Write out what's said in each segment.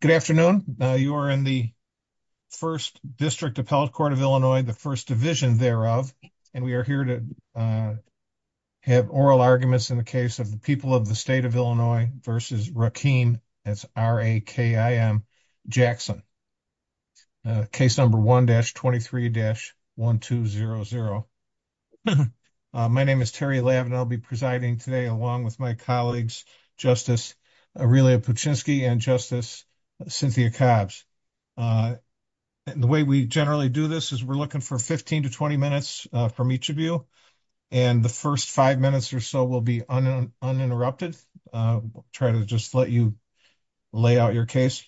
Good afternoon. You are in the 1st district appellate court of Illinois, the 1st division thereof. And we are here to have oral arguments in the case of the people of the state of Illinois versus Rakeem Jackson. Case number 1 dash 23 dash 1200. My name is Terry lab, and I'll be presiding today along with my colleagues, justice, really a and justice. Cynthia cops, and the way we generally do this is we're looking for 15 to 20 minutes from each of you. And the 1st, 5 minutes or so will be uninterrupted. Try to just let you. Lay out your case,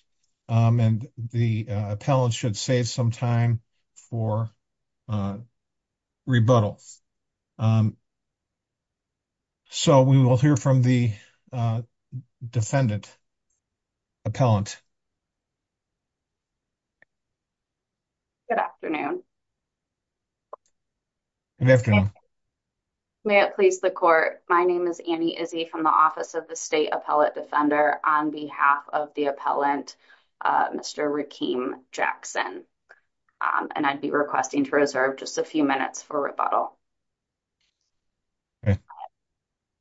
and the appellate should save some time for. Rebuttal. So, we will hear from the defendant. Appellant good afternoon. Good afternoon. May it please the court. My name is Annie Izzy from the office of the state appellate defender on behalf of the appellant. Mr. Rakeem Jackson, and I'd be requesting to reserve just a few minutes for rebuttal.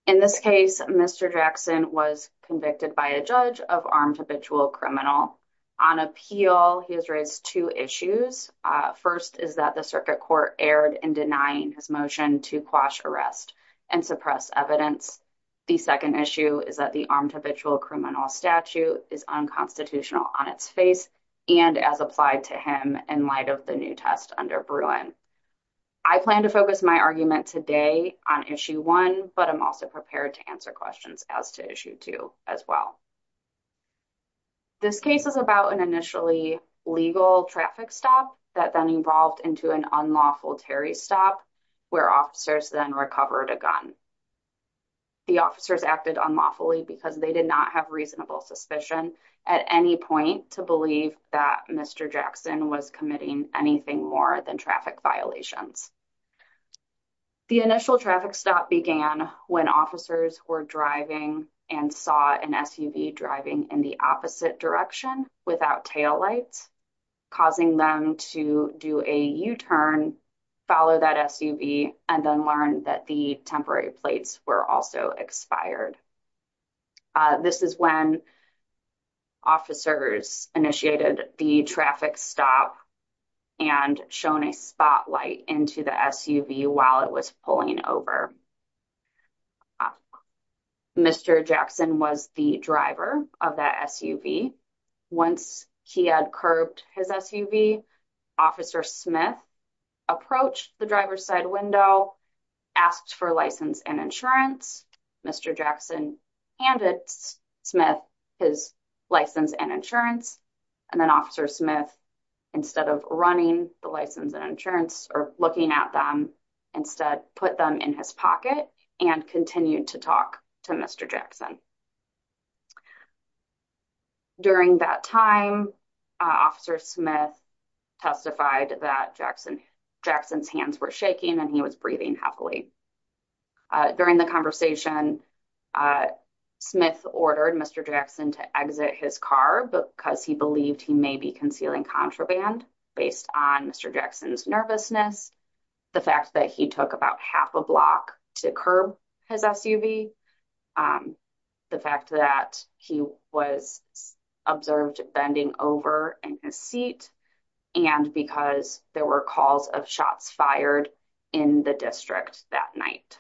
In this case, Mr. Jackson was convicted by a judge of armed habitual criminal. On appeal, he has raised 2 issues 1st, is that the circuit court aired and denying his motion to quash arrest and suppress evidence. The 2nd issue is that the armed habitual criminal statute is unconstitutional on its face. And as applied to him in light of the new test under. I plan to focus my argument today on issue 1, but I'm also prepared to answer questions as to issue 2 as well. This case is about an initially legal traffic stop that then evolved into an unlawful Terry stop. Where officers then recovered a gun, the officers acted on lawfully because they did not have reasonable suspicion at any point to believe that Mr. Jackson was committing anything more than traffic violations. The initial traffic stop began when officers were driving and saw an SUV driving in the opposite direction without tail lights. Causing them to do a U turn, follow that SUV and then learn that the temporary plates were also expired. This is when. Officers initiated the traffic stop. And shown a spotlight into the SUV while it was pulling over. Mr. Jackson was the driver of that SUV. Once he had curbed his SUV, officer Smith approached the driver's side window, asked for license and insurance. Mr. Jackson handed Smith his license and insurance. And then officer Smith, instead of running the license and insurance or looking at them instead, put them in his pocket and continued to talk to Mr. Jackson. During that time, officer Smith testified that Jackson Jackson's hands were shaking and he was breathing heavily. During the conversation, Smith ordered Mr. Jackson to exit his car because he believed he may be concealing contraband based on Mr. Jackson's nervousness. The fact that he took about half a block to curb his SUV. The fact that he was observed bending over in his seat and because there were calls of shots fired in the district that night.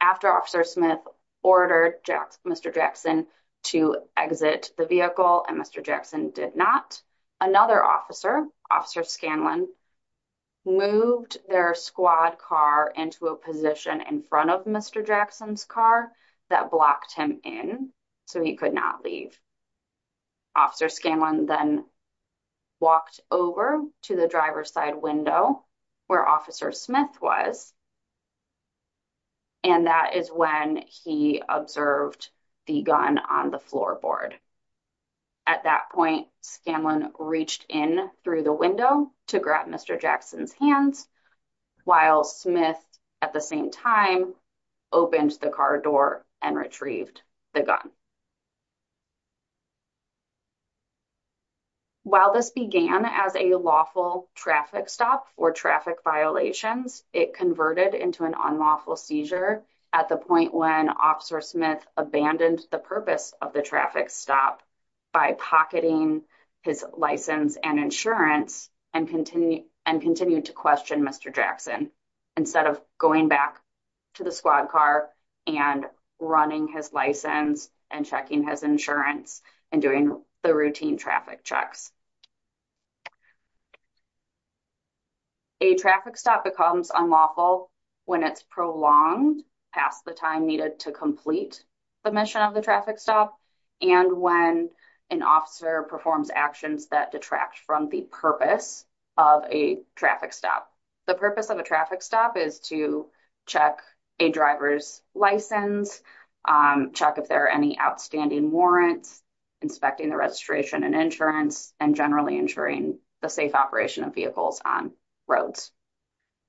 After officer Smith ordered Mr. Jackson to exit the vehicle and Mr. Jackson did not, another officer, officer Scanlon. Moved their squad car into a position in front of Mr. Jackson's car that blocked him in so he could not leave. Officer Scanlon then walked over to the driver's side window where officer Smith was. And that is when he observed the gun on the floorboard. At that point, Scanlon reached in through the window to grab Mr. Jackson's hands while Smith at the same time opened the car door and retrieved the gun. While this began as a lawful traffic stop for traffic violations, it converted into an unlawful seizure at the point when officer Smith abandoned the purpose of the traffic stop. By pocketing his license and insurance and continue and continue to question Mr. Jackson. Instead of going back to the squad car and running his license and checking his insurance and doing the routine traffic checks. A traffic stop becomes unlawful when it's prolonged past the time needed to complete the mission of the traffic stop. And when an officer performs actions that detract from the purpose of a traffic stop. The purpose of a traffic stop is to check a driver's license, check if there are any outstanding warrants, inspecting the registration and insurance and generally ensuring the safe operation of vehicles on roads.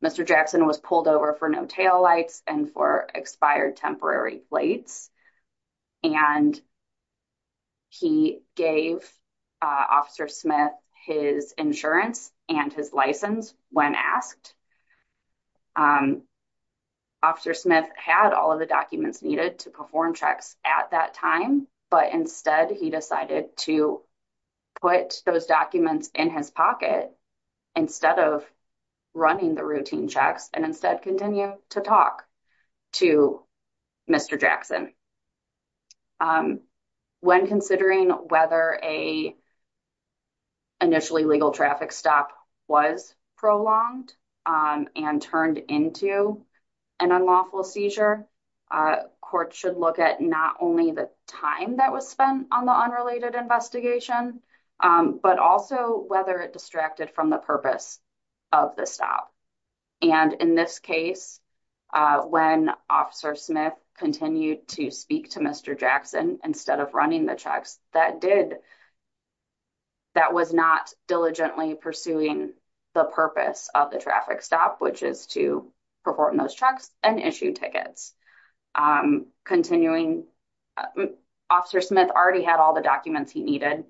Mr. Jackson was pulled over for no taillights and for expired temporary plates and he gave officer Smith his insurance and his license when asked. Officer Smith had all of the documents needed to perform checks at that time, but instead he decided to put those documents in his pocket. Instead of running the routine checks and instead continue to talk to Mr. Jackson. When considering whether a initially legal traffic stop was prolonged and turned into an unlawful seizure. Courts should look at not only the time that was spent on the unrelated investigation, but also whether it distracted from the purpose of the stop. And in this case, when officer Smith continued to speak to Mr. Jackson, instead of running the checks that did. That was not diligently pursuing the purpose of the traffic stop, which is to perform those checks and issue tickets. Continuing officer Smith already had all the documents he needed.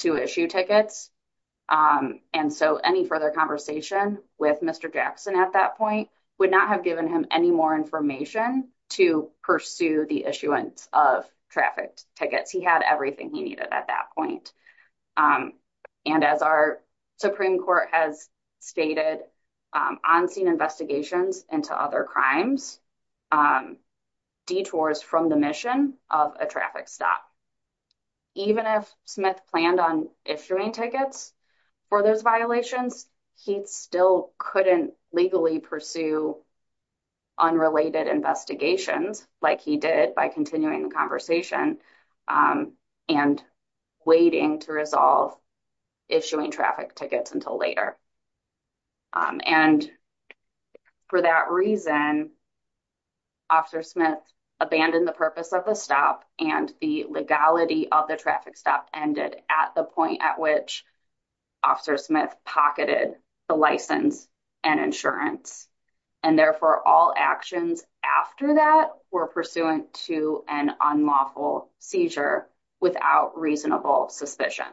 To issue tickets and so any further conversation with Mr. Jackson at that point would not have given him any more information to pursue the issuance of traffic tickets. He had everything he needed at that point and as our Supreme Court has stated on scene investigations into other crimes. Detours from the mission of a traffic stop. Even if Smith planned on issuing tickets for those violations, he still couldn't legally pursue. Unrelated investigations, like he did by continuing the conversation and. Waiting to resolve issuing traffic tickets until later. And for that reason. Officer Smith abandoned the purpose of the stop and the legality of the traffic stop ended at the point at which. Officer Smith pocketed the license and insurance. And therefore all actions after that were pursuant to an unlawful seizure without reasonable suspicion.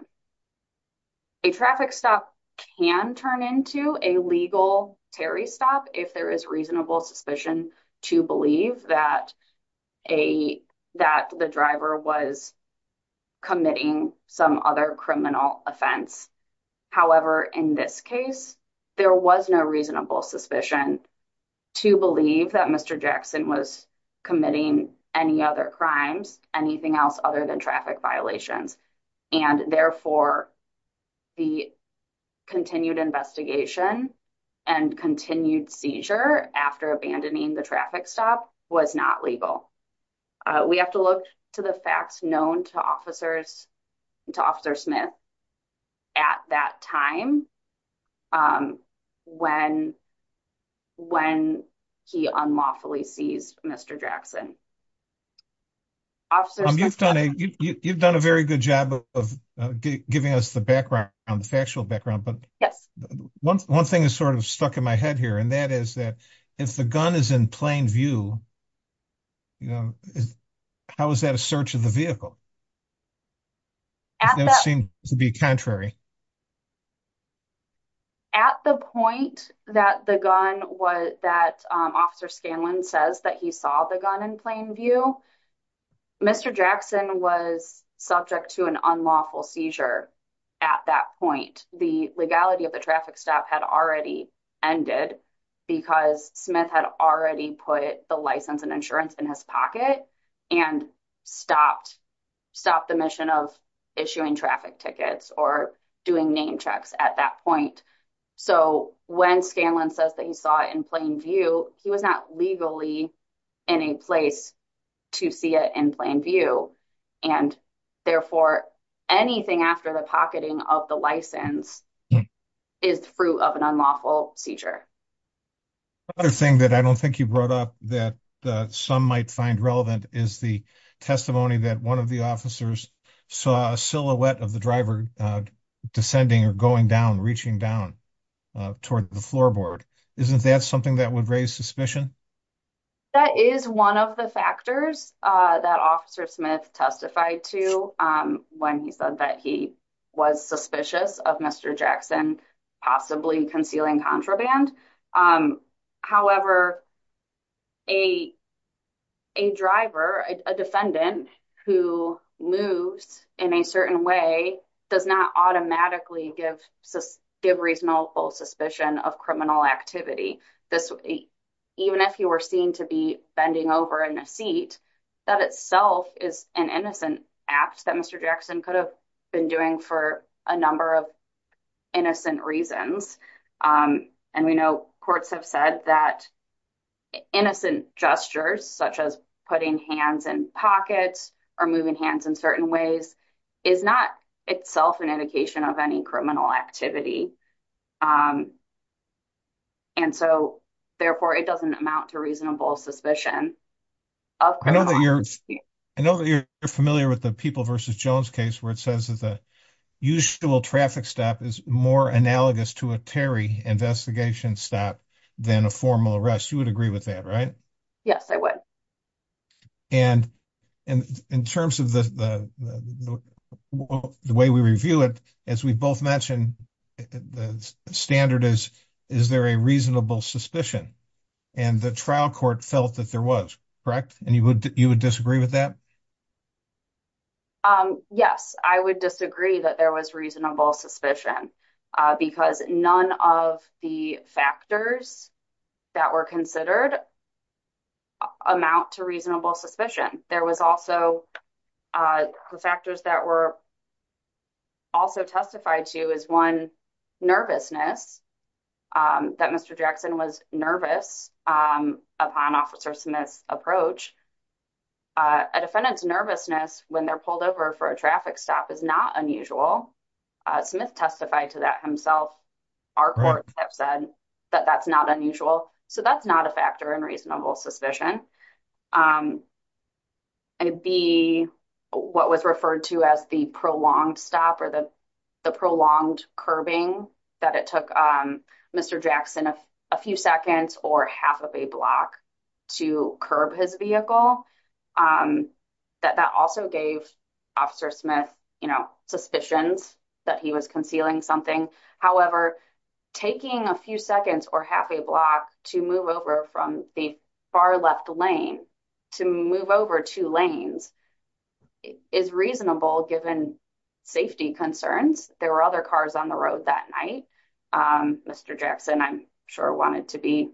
A traffic stop can turn into a legal Terry stop if there is reasonable suspicion to believe that. A that the driver was. Committing some other criminal offense. However, in this case, there was no reasonable suspicion. To believe that Mr. Jackson was committing any other crimes, anything else other than traffic violations. And therefore, the. Continued investigation and continued seizure after abandoning the traffic stop was not legal. We have to look to the facts known to officers. To officer Smith at that time. When when he unlawfully seized Mr. Jackson. You've done a, you've done a very good job of giving us the background on the factual background. But yes, 1, 1 thing is sort of stuck in my head here. And that is that if the gun is in plain view. How is that a search of the vehicle? To be contrary. At the point that the gun was that officer Scanlon says that he saw the gun in plain view. Mr. Jackson was subject to an unlawful seizure. At that point, the legality of the traffic stop had already ended. Because Smith had already put the license and insurance in his pocket and stopped. Stop the mission of issuing traffic tickets or doing name checks at that point. So, when Scanlon says that he saw it in plain view, he was not legally. Any place to see it in plain view. And therefore, anything after the pocketing of the license. Is the fruit of an unlawful seizure. Other thing that I don't think you brought up that some might find relevant is the testimony that 1 of the officers. So, a silhouette of the driver descending or going down, reaching down. Toward the floorboard isn't that something that would raise suspicion. That is 1 of the factors that officer Smith testified to when he said that he. Was suspicious of Mr. Jackson, possibly concealing contraband. Um, however, a. A driver, a defendant who moves in a certain way. Does not automatically give give reasonable suspicion of criminal activity. This, even if you were seen to be bending over in a seat. That itself is an innocent act that Mr. Jackson could have. Been doing for a number of innocent reasons. Um, and we know courts have said that. Innocent gestures, such as putting hands and pockets. Or moving hands in certain ways is not itself an indication of any criminal activity. And so, therefore, it doesn't amount to reasonable suspicion. I know that you're familiar with the people versus Jones case where it says that the. Usual traffic stop is more analogous to a Terry investigation stop. Then a formal arrest, you would agree with that, right? Yes, I would. And in terms of the. The way we review it, as we both mentioned. The standard is, is there a reasonable suspicion? And the trial court felt that there was correct and you would, you would disagree with that. Yes, I would disagree that there was reasonable suspicion. Because none of the factors. That were considered amount to reasonable suspicion. There was also. The factors that were also testified to is 1. Nervousness that Mr. Jackson was nervous. Upon officer Smith's approach. A defendant's nervousness when they're pulled over for a traffic stop is not unusual. Smith testified to that himself. Our courts have said that that's not unusual, so that's not a factor in reasonable suspicion. It'd be what was referred to as the prolonged stop or the. The prolonged curbing that it took Mr. Jackson a few seconds or half of a block. To curb his vehicle that that also gave. Officer Smith, you know, suspicions that he was concealing something. However. Taking a few seconds or half a block to move over from the far left lane. To move over 2 lanes is reasonable given. Safety concerns there were other cars on the road that night. Um, Mr. Jackson, I'm sure I wanted to be.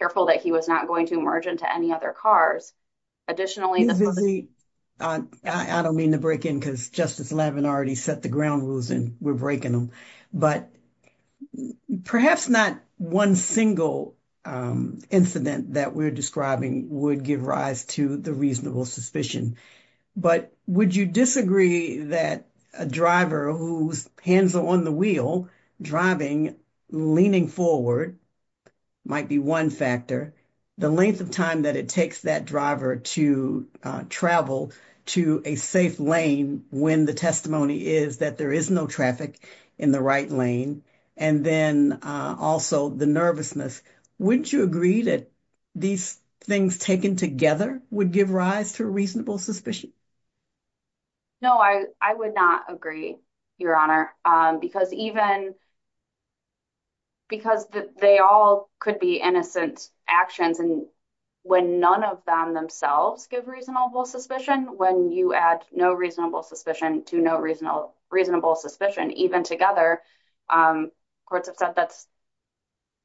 Careful that he was not going to emerge into any other cars. Additionally, I don't mean to break in because justice 11 already set the ground rules and we're breaking them, but. Perhaps not 1 single incident that we're describing would give rise to the reasonable suspicion. But would you disagree that a driver whose hands are on the wheel driving leaning forward? Might be 1 factor the length of time that it takes that driver to travel to a safe lane when the testimony is that there is no traffic in the right lane. And then also the nervousness, wouldn't you agree that. These things taken together would give rise to a reasonable suspicion. No, I, I would not agree. Your honor, because even. Because they all could be innocent actions and. When none of them themselves give reasonable suspicion, when you add no reasonable suspicion to no reasonable, reasonable suspicion, even together. Um, courts have said that's.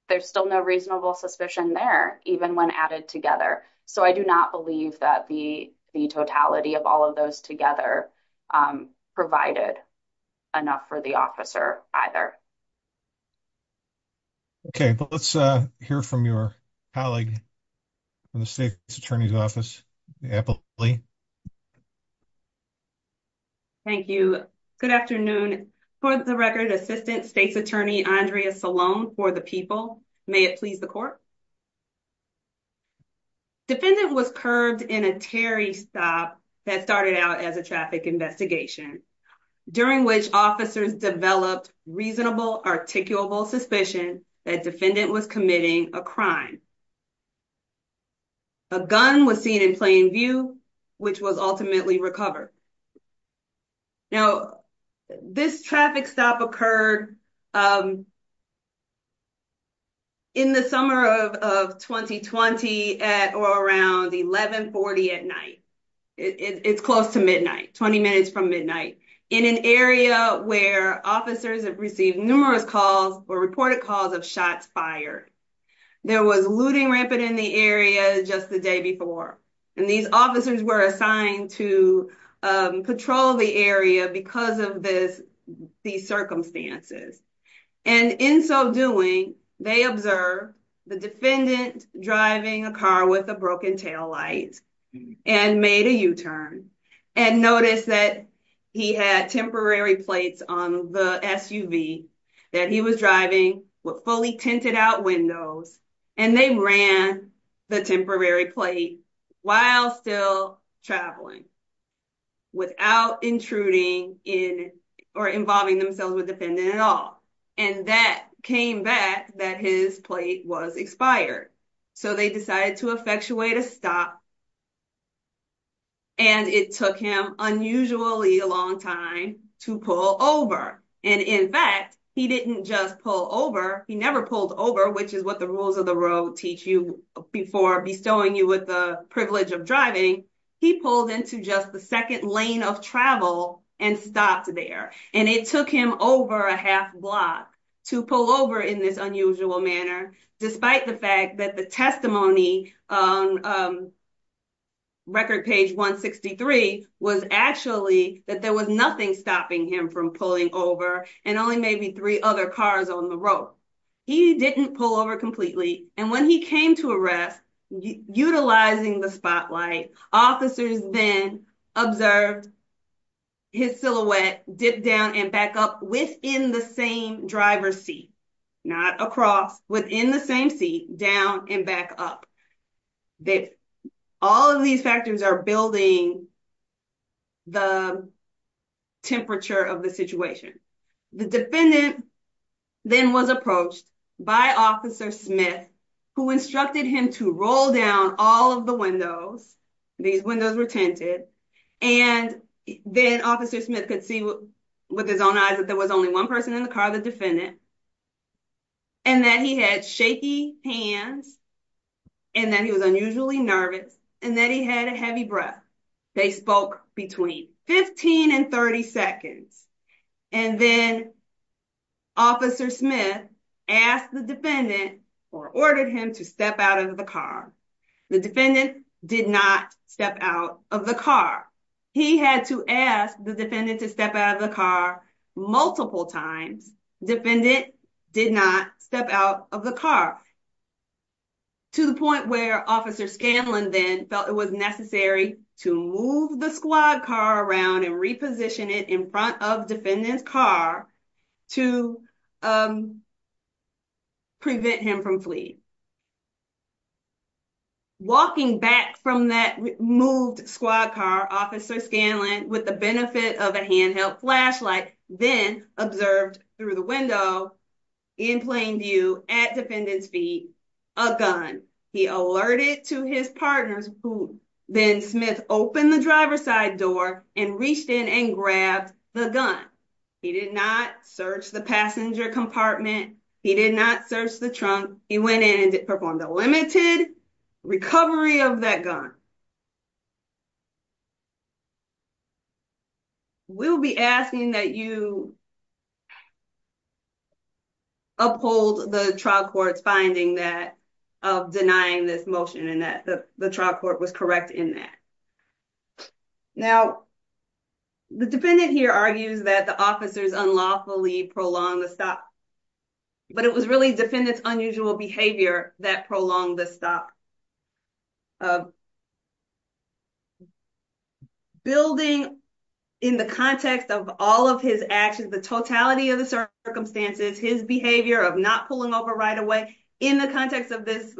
There's still no reasonable suspicion there, even when added together. So I do not believe that the, the totality of all of those together provided. Enough for the officer either. Okay, but let's hear from your colleague. Attorney's office. Thank you. Good afternoon for the record assistant state's attorney, Andrea Salone for the people. May it please the court. Defendant was curved in a Terry stop that started out as a traffic investigation. During which officers developed reasonable articulable suspicion that defendant was committing a crime. A gun was seen in plain view, which was ultimately recovered. Now, this traffic stop occurred. In the summer of 2020 at or around 1140 at night. It's close to midnight 20 minutes from midnight in an area where officers have received numerous calls or reported calls of shots fired. There was looting rampant in the area just the day before. And these officers were assigned to patrol the area because of this. These circumstances, and in so doing, they observe the defendant driving a car with a broken tail light and made a U turn and notice that he had temporary plates on the SUV that he was driving with fully tinted out windows. And they ran the temporary plate while still traveling. Without intruding in or involving themselves with defendant at all. And that came back that his plate was expired. So they decided to effectuate a stop. And it took him unusually a long time to pull over. And in fact, he didn't just pull over. He never pulled over, which is what the rules of the road teach you before bestowing you with the privilege of driving. He pulled into just the second lane of travel and stopped there and it took him over a half block to pull over in this unusual manner. Despite the fact that the testimony on record page 163 was actually that there was nothing stopping him from pulling over and only maybe three other cars on the road. He didn't pull over completely. And when he came to arrest, utilizing the spotlight, officers then observed his silhouette dip down and back up within the same driver's seat. Not across, within the same seat, down and back up. All of these factors are building the temperature of the situation. The defendant then was approached by Officer Smith, who instructed him to roll down all of the windows. These windows were tinted. And then Officer Smith could see with his own eyes that there was only one person in the car, the defendant. And that he had shaky hands and that he was unusually nervous and that he had a heavy breath. They spoke between 15 and 30 seconds. And then Officer Smith asked the defendant or ordered him to step out of the car. The defendant did not step out of the car. He had to ask the defendant to step out of the car multiple times. The defendant did not step out of the car. To the point where Officer Scanlon then felt it was necessary to move the squad car around and reposition it in front of defendant's car to prevent him from fleeing. Walking back from that moved squad car, Officer Scanlon, with the benefit of a handheld flashlight, then observed through the window in plain view at defendant's feet, a gun. He alerted to his partners who then Smith opened the driver's side door and reached in and grabbed the gun. He did not search the passenger compartment. He did not search the trunk. He went in and performed a limited recovery of that gun. We'll be asking that you uphold the trial court's finding that of denying this motion and that the trial court was correct in that. Now, the defendant here argues that the officers unlawfully prolonged the stop. But it was really defendant's unusual behavior that prolonged the stop. Building in the context of all of his actions, the totality of the circumstances, his behavior of not pulling over right away in the context of this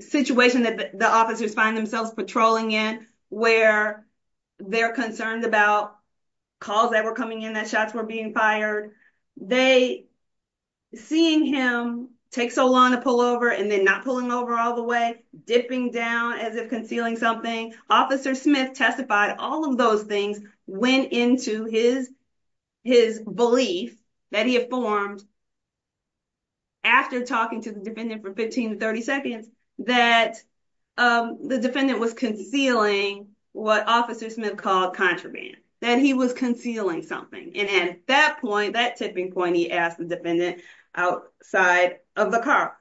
situation that the officers find themselves patrolling in where they're concerned about calls that were coming in that shots were being fired. Seeing him take so long to pull over and then not pulling over all the way, dipping down as if concealing something, Officer Smith testified all of those things went into his belief that he had formed after talking to the defendant for 15 to 30 seconds that the defendant was concealing what Officer Smith called contraband. That he was concealing something. And at that point, that tipping point, he asked the defendant outside of the car.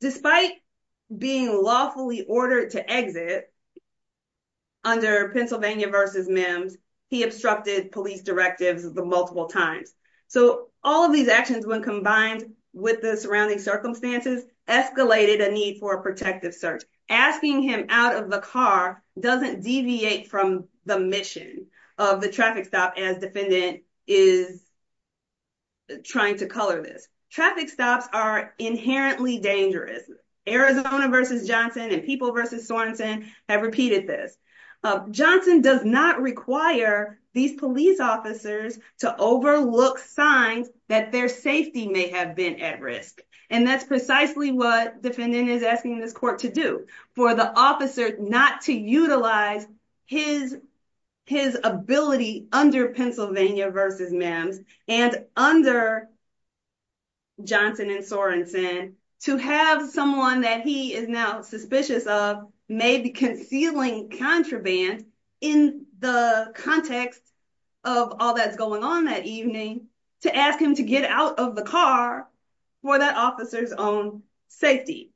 Despite being lawfully ordered to exit under Pennsylvania v. Mims, he obstructed police directives multiple times. So all of these actions, when combined with the surrounding circumstances, escalated a need for a protective search. Asking him out of the car doesn't deviate from the mission of the traffic stop as defendant is trying to color this. Traffic stops are inherently dangerous. Arizona v. Johnson and People v. Sorensen have repeated this. Johnson does not require these police officers to overlook signs that their safety may have been at risk. And that's precisely what defendant is asking this court to do. For the officer not to utilize his ability under Pennsylvania v. Mims and under Johnson and Sorensen to have someone that he is now suspicious of may be concealing contraband in the context of all that's going on that evening to ask him to get out of the car for that officer's own safety.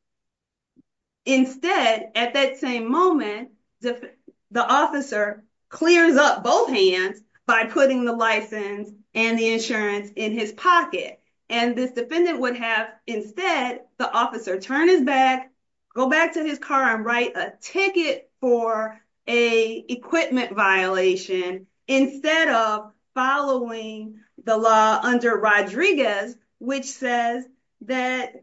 Instead, at that same moment, the officer clears up both hands by putting the license and the insurance in his pocket. And this defendant would have instead the officer turn his back, go back to his car and write a ticket for a equipment violation instead of following the law under Rodriguez, which says that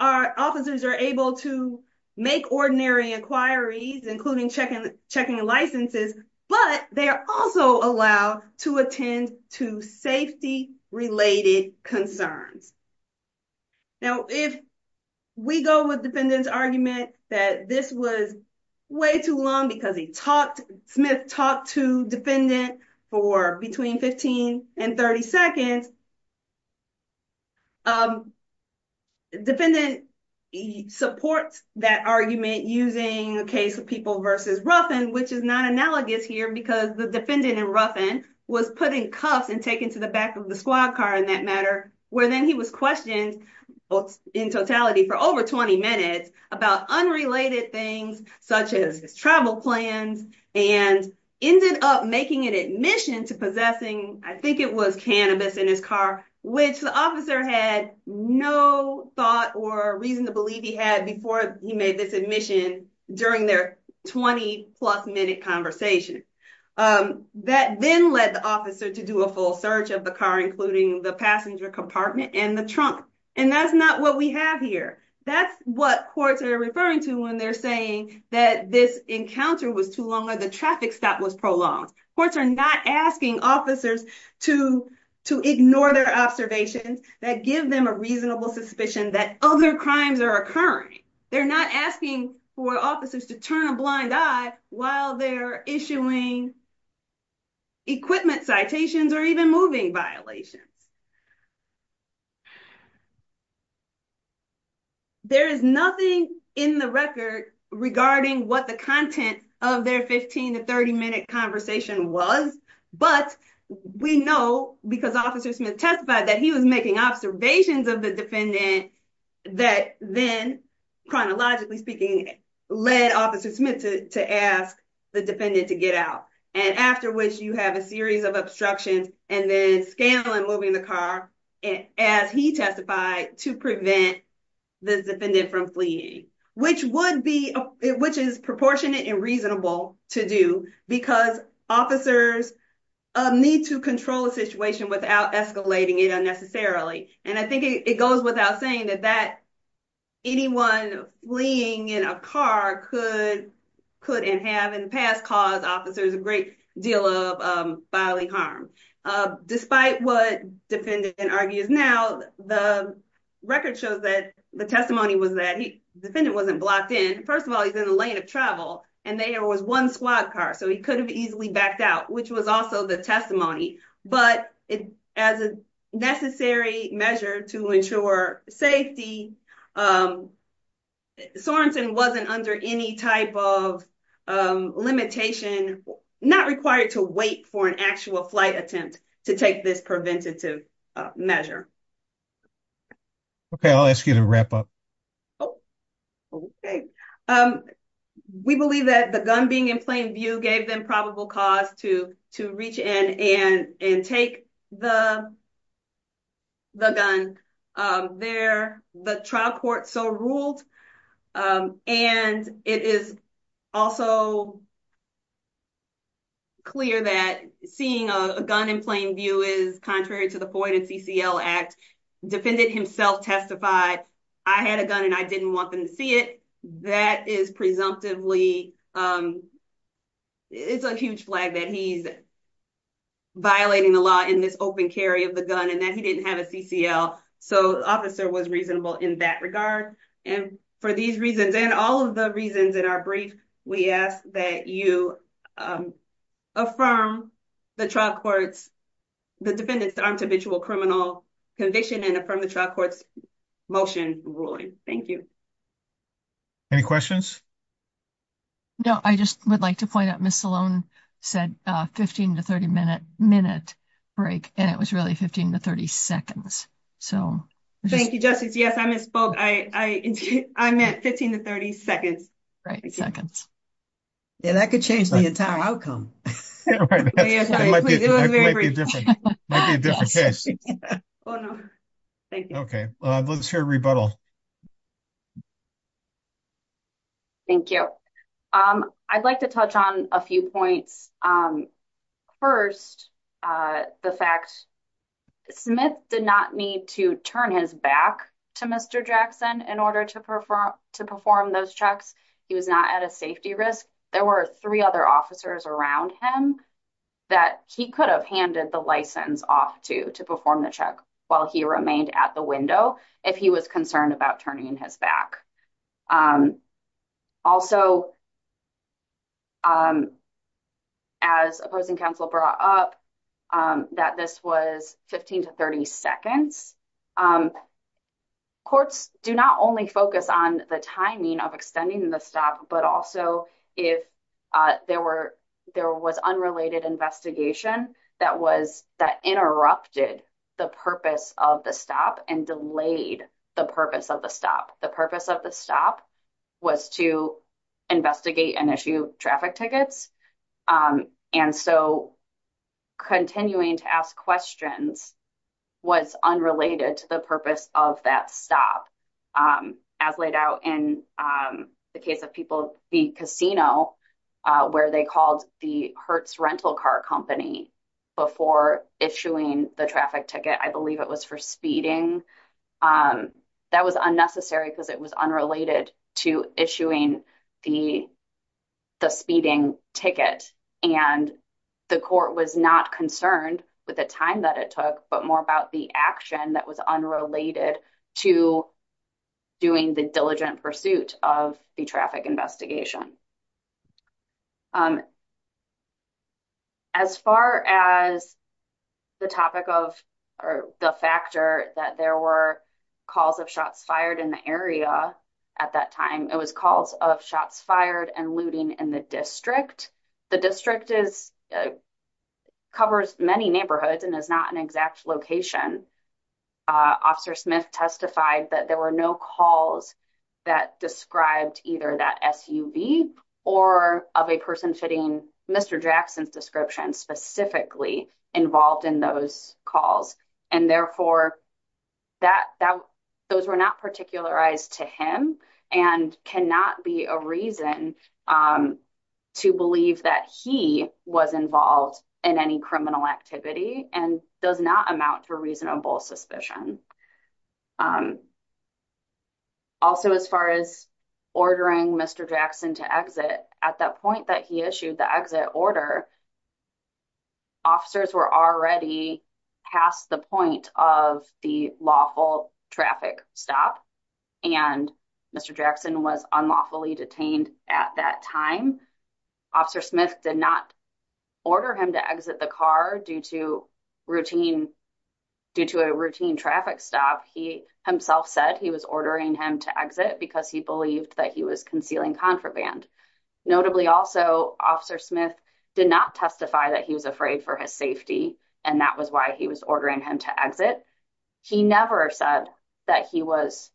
officers are able to make ordinary inquiries, including checking licenses, but they are also allowed to attend to safety-related concerns. Now, if we go with defendant's argument that this was way too long because he talked, Smith talked to defendant for between 15 and 30 seconds. Defendant supports that argument using a case of people v. Ruffin, which is not analogous here because the defendant in Ruffin was put in cuffs and taken to the back of the squad car in that matter, where then he was questioned in totality for over 20 minutes about unrelated things such as his travel plans and ended up making an admission to possessing, I think it was cannabis in his car. Which the officer had no thought or reason to believe he had before he made this admission during their 20 plus minute conversation. That then led the officer to do a full search of the car, including the passenger compartment and the trunk. And that's not what we have here. That's what courts are referring to when they're saying that this encounter was too long or the traffic stop was prolonged. Courts are not asking officers to ignore their observations that give them a reasonable suspicion that other crimes are occurring. They're not asking for officers to turn a blind eye while they're issuing equipment citations or even moving violations. There is nothing in the record regarding what the content of their 15 to 30 minute conversation was, but we know because Officer Smith testified that he was making observations of the defendant. That then, chronologically speaking, led Officer Smith to ask the defendant to get out. And after which you have a series of obstructions and then scandal and moving the car as he testified to prevent the defendant from fleeing. Which is proportionate and reasonable to do because officers need to control a situation without escalating it unnecessarily. And I think it goes without saying that anyone fleeing in a car could have in the past caused officers a great deal of bodily harm. Despite what defendant argues now, the record shows that the testimony was that the defendant wasn't blocked in. First of all, he's in the lane of travel and there was one squad car so he could have easily backed out, which was also the testimony. But as a necessary measure to ensure safety, Sorensen wasn't under any type of limitation, not required to wait for an actual flight attempt to take this preventative measure. Okay, I'll ask you to wrap up. Okay, um, we believe that the gun being in plain view gave them probable cause to to reach in and take the The gun there. The trial court so ruled. And it is also Clear that seeing a gun in plain view is contrary to the pointed CCL act defendant himself testified. I had a gun and I didn't want them to see it. That is presumptively It's a huge flag that he's Affirm the trial courts. The defendants aren't habitual criminal conviction and from the trial courts motion ruling. Thank you. Any questions. No, I just would like to point out, Miss Sloan said 15 to 30 minute minute break. And it was really 15 to 30 seconds. So Thank you, Justice. Yes, I misspoke. I meant 15 to 30 seconds. Right seconds. And that could change the entire outcome. Okay, let's hear rebuttal. Thank you. Um, I'd like to touch on a few points. First, the fact Smith did not need to turn his back to Mr. Jackson in order to perform to perform those checks. He was not at a safety risk. There were three other officers around him. That he could have handed the license off to to perform the check while he remained at the window. If he was concerned about turning his back. Also, As opposing counsel brought up that this was 15 to 30 seconds. Courts do not only focus on the timing of extending the stop, but also if there were there was unrelated investigation that was that interrupted the purpose of the stop and delayed the purpose of the stop the purpose of the stop was to Investigate and issue traffic tickets. And so continuing to ask questions was unrelated to the purpose of that stop. As laid out in the case of people, the casino where they called the Hertz rental car company before issuing the traffic ticket. I believe it was for speeding. That was unnecessary because it was unrelated to issuing the the speeding ticket and the court was not concerned with the time that it took, but more about the action that was unrelated to doing the diligent pursuit of the traffic investigation. As far as the topic of the factor that there were calls of shots fired in the area. At that time, it was calls of shots fired and looting in the district. The district is Covers many neighborhoods and is not an exact location. Officer Smith testified that there were no calls that described either that SUV or of a person fitting Mr. Jackson's description specifically involved in those calls and therefore that that those were not particular eyes to him and cannot be a reason. To believe that he was involved in any criminal activity and does not amount to a reasonable suspicion. Also, as far as ordering Mr. Jackson to exit at that point that he issued the exit order. Officers were already past the point of the lawful traffic stop and Mr. Jackson was unlawfully detained at that time. Officer Smith did not order him to exit the car due to routine due to a routine traffic stop. He himself said he was ordering him to exit because he believed that he was concealing contraband. Notably, also, Officer Smith did not testify that he was afraid for his safety and that was why he was ordering him to exit. He never said that he was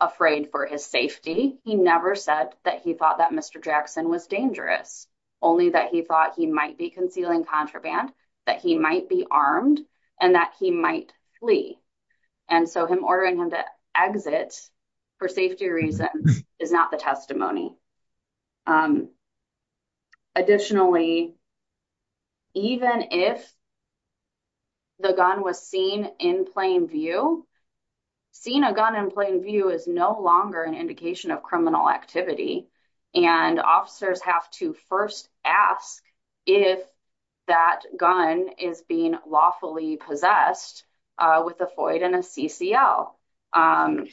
afraid for his safety. He never said that he thought that Mr. Jackson was dangerous, only that he thought he might be concealing contraband that he might be armed and that he might flee. And so him ordering him to exit for safety reasons is not the testimony. Additionally, even if the gun was seen in plain view, seeing a gun in plain view is no longer an indication of criminal activity. And officers have to first ask if that gun is being lawfully possessed with a FOID and a CCL.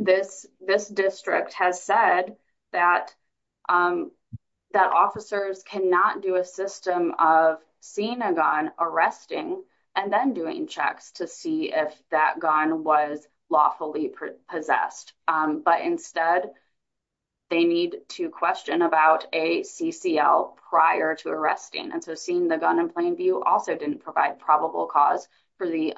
This district has said that officers cannot do a system of seeing a gun, arresting, and then doing checks to see if that gun was lawfully possessed. But instead, they need to question about a CCL prior to arresting. And so seeing the gun in plain view also didn't provide probable cause for the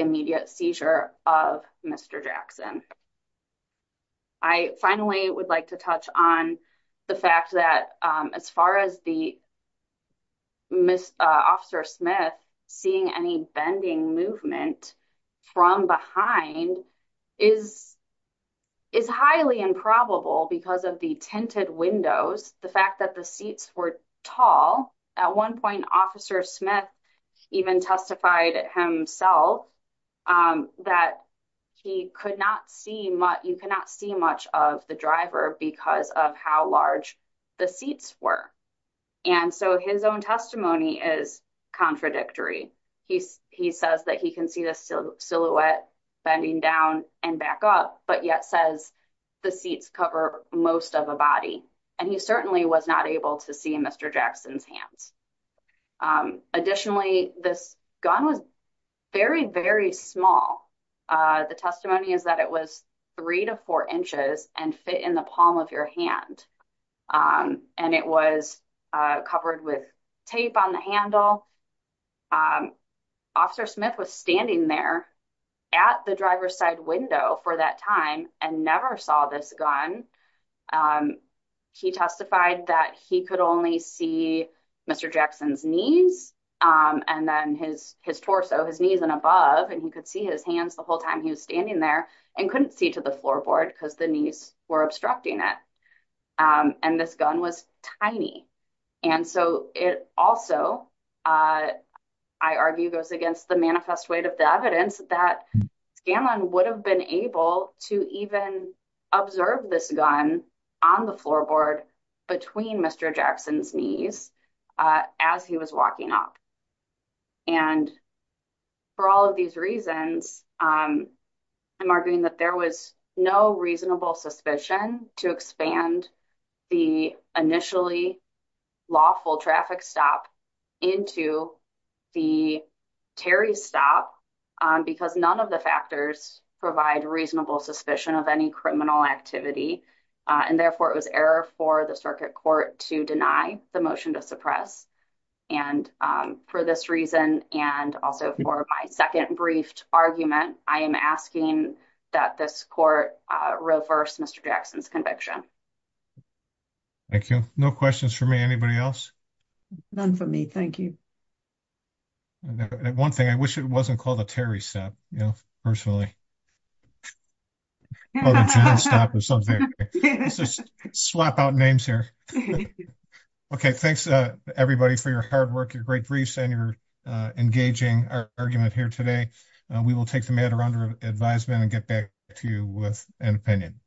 immediate seizure of Mr. Jackson. I finally would like to touch on the fact that as far as Officer Smith, seeing any bending movement from behind is highly improbable because of the tinted windows, the fact that the seats were tall. At one point, Officer Smith even testified himself that you could not see much of the driver because of how large the seats were. And so his own testimony is contradictory. He says that he can see the silhouette bending down and back up, but yet says the seats cover most of a body. And he certainly was not able to see Mr. Jackson's hands. Additionally, this gun was very, very small. The testimony is that it was three to four inches and fit in the palm of your hand. And it was covered with tape on the handle. Officer Smith was standing there at the driver's side window for that time and never saw this gun. He testified that he could only see Mr. Jackson's knees and then his torso, his knees and above, and he could see his hands the whole time he was standing there and couldn't see to the floorboard because the knees were obstructing it. And this gun was tiny. And so it also, I argue, goes against the manifest weight of the evidence that Scanlon would have been able to even observe this gun on the floorboard between Mr. Jackson's knees as he was walking up. And for all of these reasons, I'm arguing that there was no reasonable suspicion to expand the initially lawful traffic stop into the Terry stop because none of the factors provide reasonable suspicion of any criminal activity. And therefore, it was error for the circuit court to deny the motion to suppress. And for this reason, and also for my second briefed argument, I am asking that this court reverse Mr. Jackson's conviction. Thank you. No questions for me. Anybody else? None for me. Thank you. One thing I wish it wasn't called a Terry set, you know, personally. Slap out names here. Okay, thanks everybody for your hard work, your great briefs and you're engaging our argument here today. We will take the matter under advisement and get back to you with an opinion.